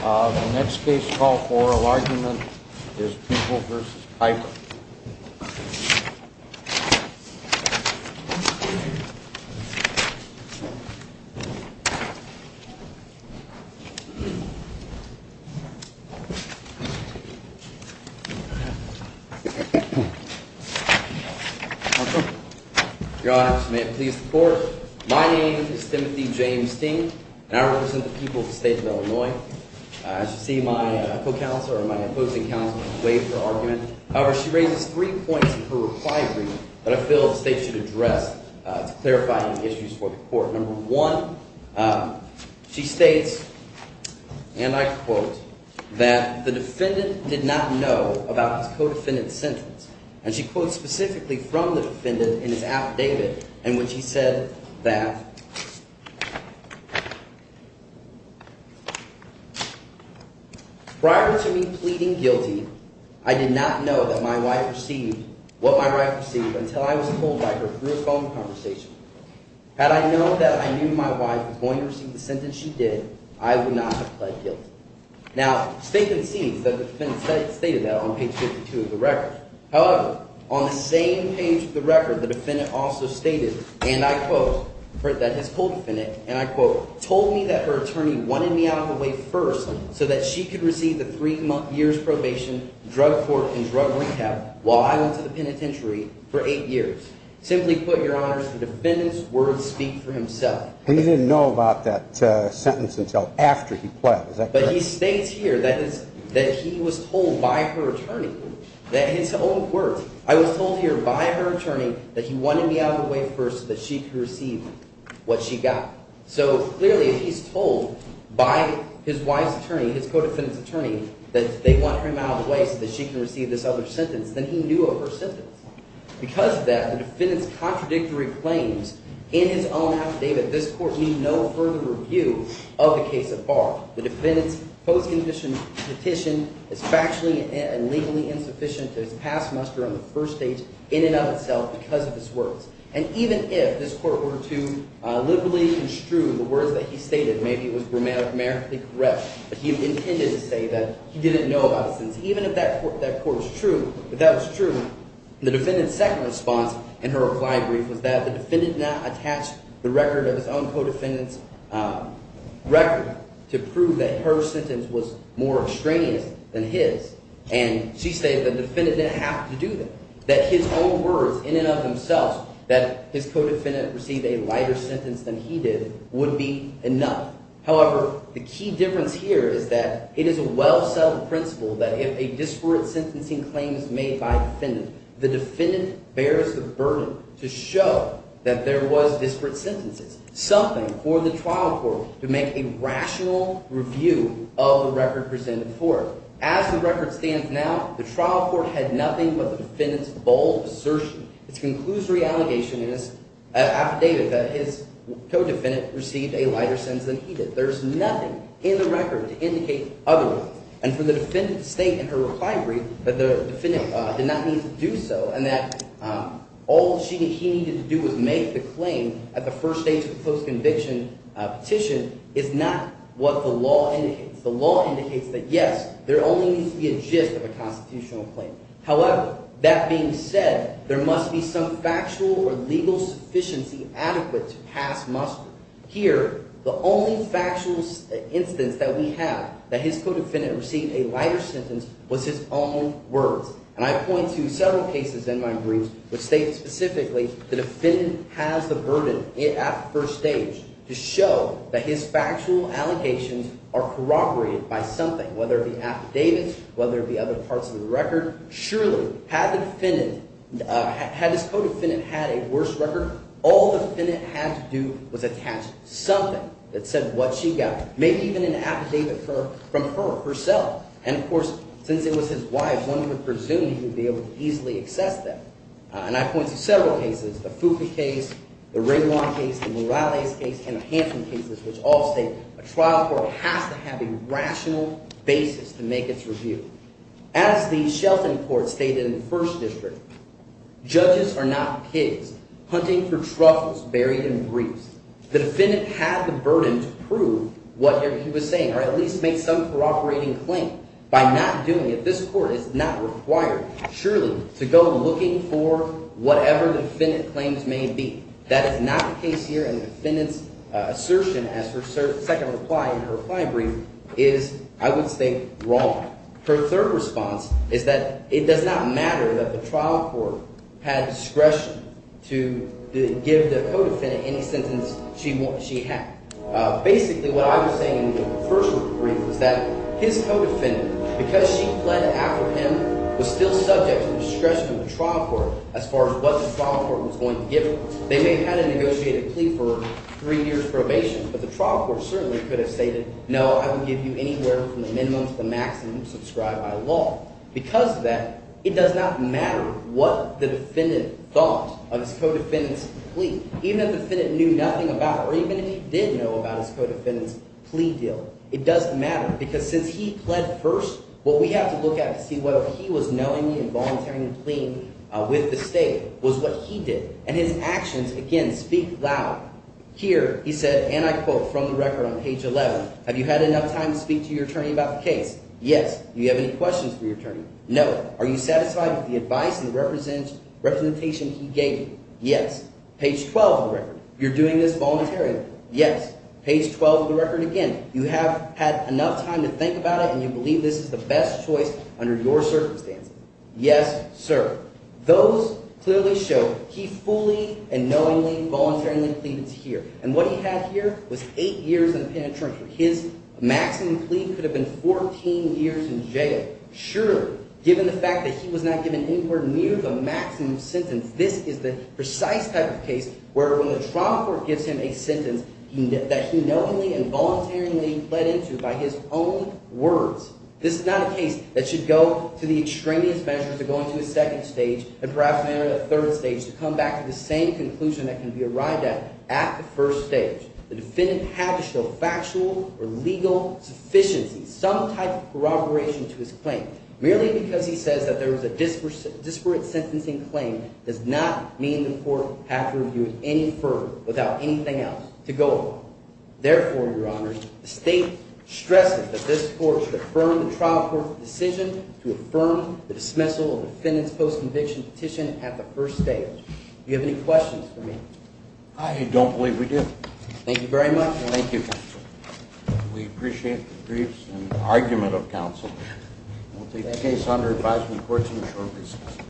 The next case to call for oral argument is People v. Piper. My name is Timothy James Sting, and I represent the people of the state of Illinois. As you see, my opposing counsel has waived her argument. However, she raises three points in her reply agreement that I feel the state should address to clarify any issues for the court. Number one, she states, and I quote, that the defendant did not know about his co-defendant's sentence. And she quotes specifically from the defendant in his affidavit in which he said that… Now, state of the scene, the defendant stated that on page 52 of the record. However, on the same page of the record, the defendant also stated, and I quote, that his co-defendant, and I quote… He didn't know about that sentence until after he pled. Is that correct? But he states here that he was told by her attorney that his own words. I was told here by her attorney that he wanted me out of the way first so that she could receive what she got. So clearly, if he's told by his wife's attorney, his co-defendant's attorney, that they want him out of the way so that she can receive this other sentence, then he knew of her sentence. Because of that, the defendant's contradictory claims in his own affidavit, this court need no further review of the case at bar. The defendant's post-petition is factually and legally insufficient to its past muster on the first stage in and of itself because of his words. And even if this court were to liberally construe the words that he stated, maybe it was grammatically correct, but he intended to say that he didn't know about the sentence. Even if that court is true, if that was true, the defendant's second response in her reply brief was that the defendant not attached the record of his own co-defendant's record to prove that her sentence was more extraneous than his. And she stated the defendant didn't have to do that, that his own words in and of themselves, that his co-defendant received a lighter sentence than he did, would be enough. However, the key difference here is that it is a well-settled principle that if a disparate sentencing claim is made by a defendant, the defendant bears the burden to show that there was disparate sentences, something for the trial court to make a rational review of the record presented for it. As the record stands now, the trial court had nothing but the defendant's bold assertion. Its conclusory allegation is affidavit that his co-defendant received a lighter sentence than he did. There's nothing in the record to indicate otherwise. And for the defendant to state in her reply brief that the defendant did not need to do so and that all he needed to do was make the claim at the first stage of the post-conviction petition is not what the law indicates. The law indicates that, yes, there only needs to be a gist of a constitutional claim. However, that being said, there must be some factual or legal sufficiency adequate to pass muster. Here, the only factual instance that we have that his co-defendant received a lighter sentence was his own words. And I point to several cases in my briefs which state specifically the defendant has the burden at first stage to show that his factual allegations are corroborated by something, whether it be affidavits, whether it be other parts of the record. Surely, had the defendant – had his co-defendant had a worse record, all the defendant had to do was attach something that said what she got, maybe even an affidavit from her herself. And, of course, since it was his wife, one could presume he would be able to easily access that. And I point to several cases, the Foucault case, the Raymond case, the Morales case, and the Hansen cases, which all state a trial court has to have a rational basis to make its review. As the Shelton court stated in the first district, judges are not pigs hunting for truffles buried in briefs. The defendant had the burden to prove whatever he was saying or at least make some corroborating claim. By not doing it, this court is not required, surely, to go looking for whatever defendant claims may be. That is not the case here, and the defendant's assertion as her second reply in her reply brief is, I would say, wrong. Her third response is that it does not matter that the trial court had discretion to give the co-defendant any sentence she had. Basically, what I was saying in the first brief was that his co-defendant, because she pled after him, was still subject to discretion of the trial court as far as what the trial court was going to give her. They may have had to negotiate a plea for three years probation, but the trial court certainly could have stated, no, I would give you anywhere from the minimum to the maximum subscribed by law. Because of that, it does not matter what the defendant thought of his co-defendant's plea, even if the defendant knew nothing about it or even if he did know about his co-defendant's plea deal. It doesn't matter because since he pled first, what we have to look at to see whether he was knowingly and voluntarily pleading with the state was what he did. And his actions, again, speak loud. Here he said, and I quote from the record on page 11, have you had enough time to speak to your attorney about the case? Yes. Do you have any questions for your attorney? No. Are you satisfied with the advice and representation he gave you? Yes. Page 12 of the record, you're doing this voluntarily? Yes. Page 12 of the record again, you have had enough time to think about it and you believe this is the best choice under your circumstances? Yes, sir. Those clearly show he fully and knowingly, voluntarily pleaded to here. And what he had here was eight years in penitentiary. His maximum plea could have been 14 years in jail. Sure, given the fact that he was not given anywhere near the maximum sentence, this is the precise type of case where when the trauma court gives him a sentence that he knowingly and voluntarily pled into by his own words. This is not a case that should go to the extraneous measure to go into a second stage and perhaps enter a third stage to come back to the same conclusion that can be arrived at at the first stage. The defendant had to show factual or legal sufficiency, some type of corroboration to his claim. Merely because he says that there was a disparate sentencing claim does not mean the court had to review it any further without anything else to go along. Therefore, your honor, the state stresses that this court should affirm the trial court's decision to affirm the dismissal of the defendant's post-conviction petition at the first stage. Do you have any questions for me? I don't believe we do. Thank you very much. Thank you, counsel. We appreciate the briefs and the argument of counsel. We'll take the case under advisement of the courts in a short recess.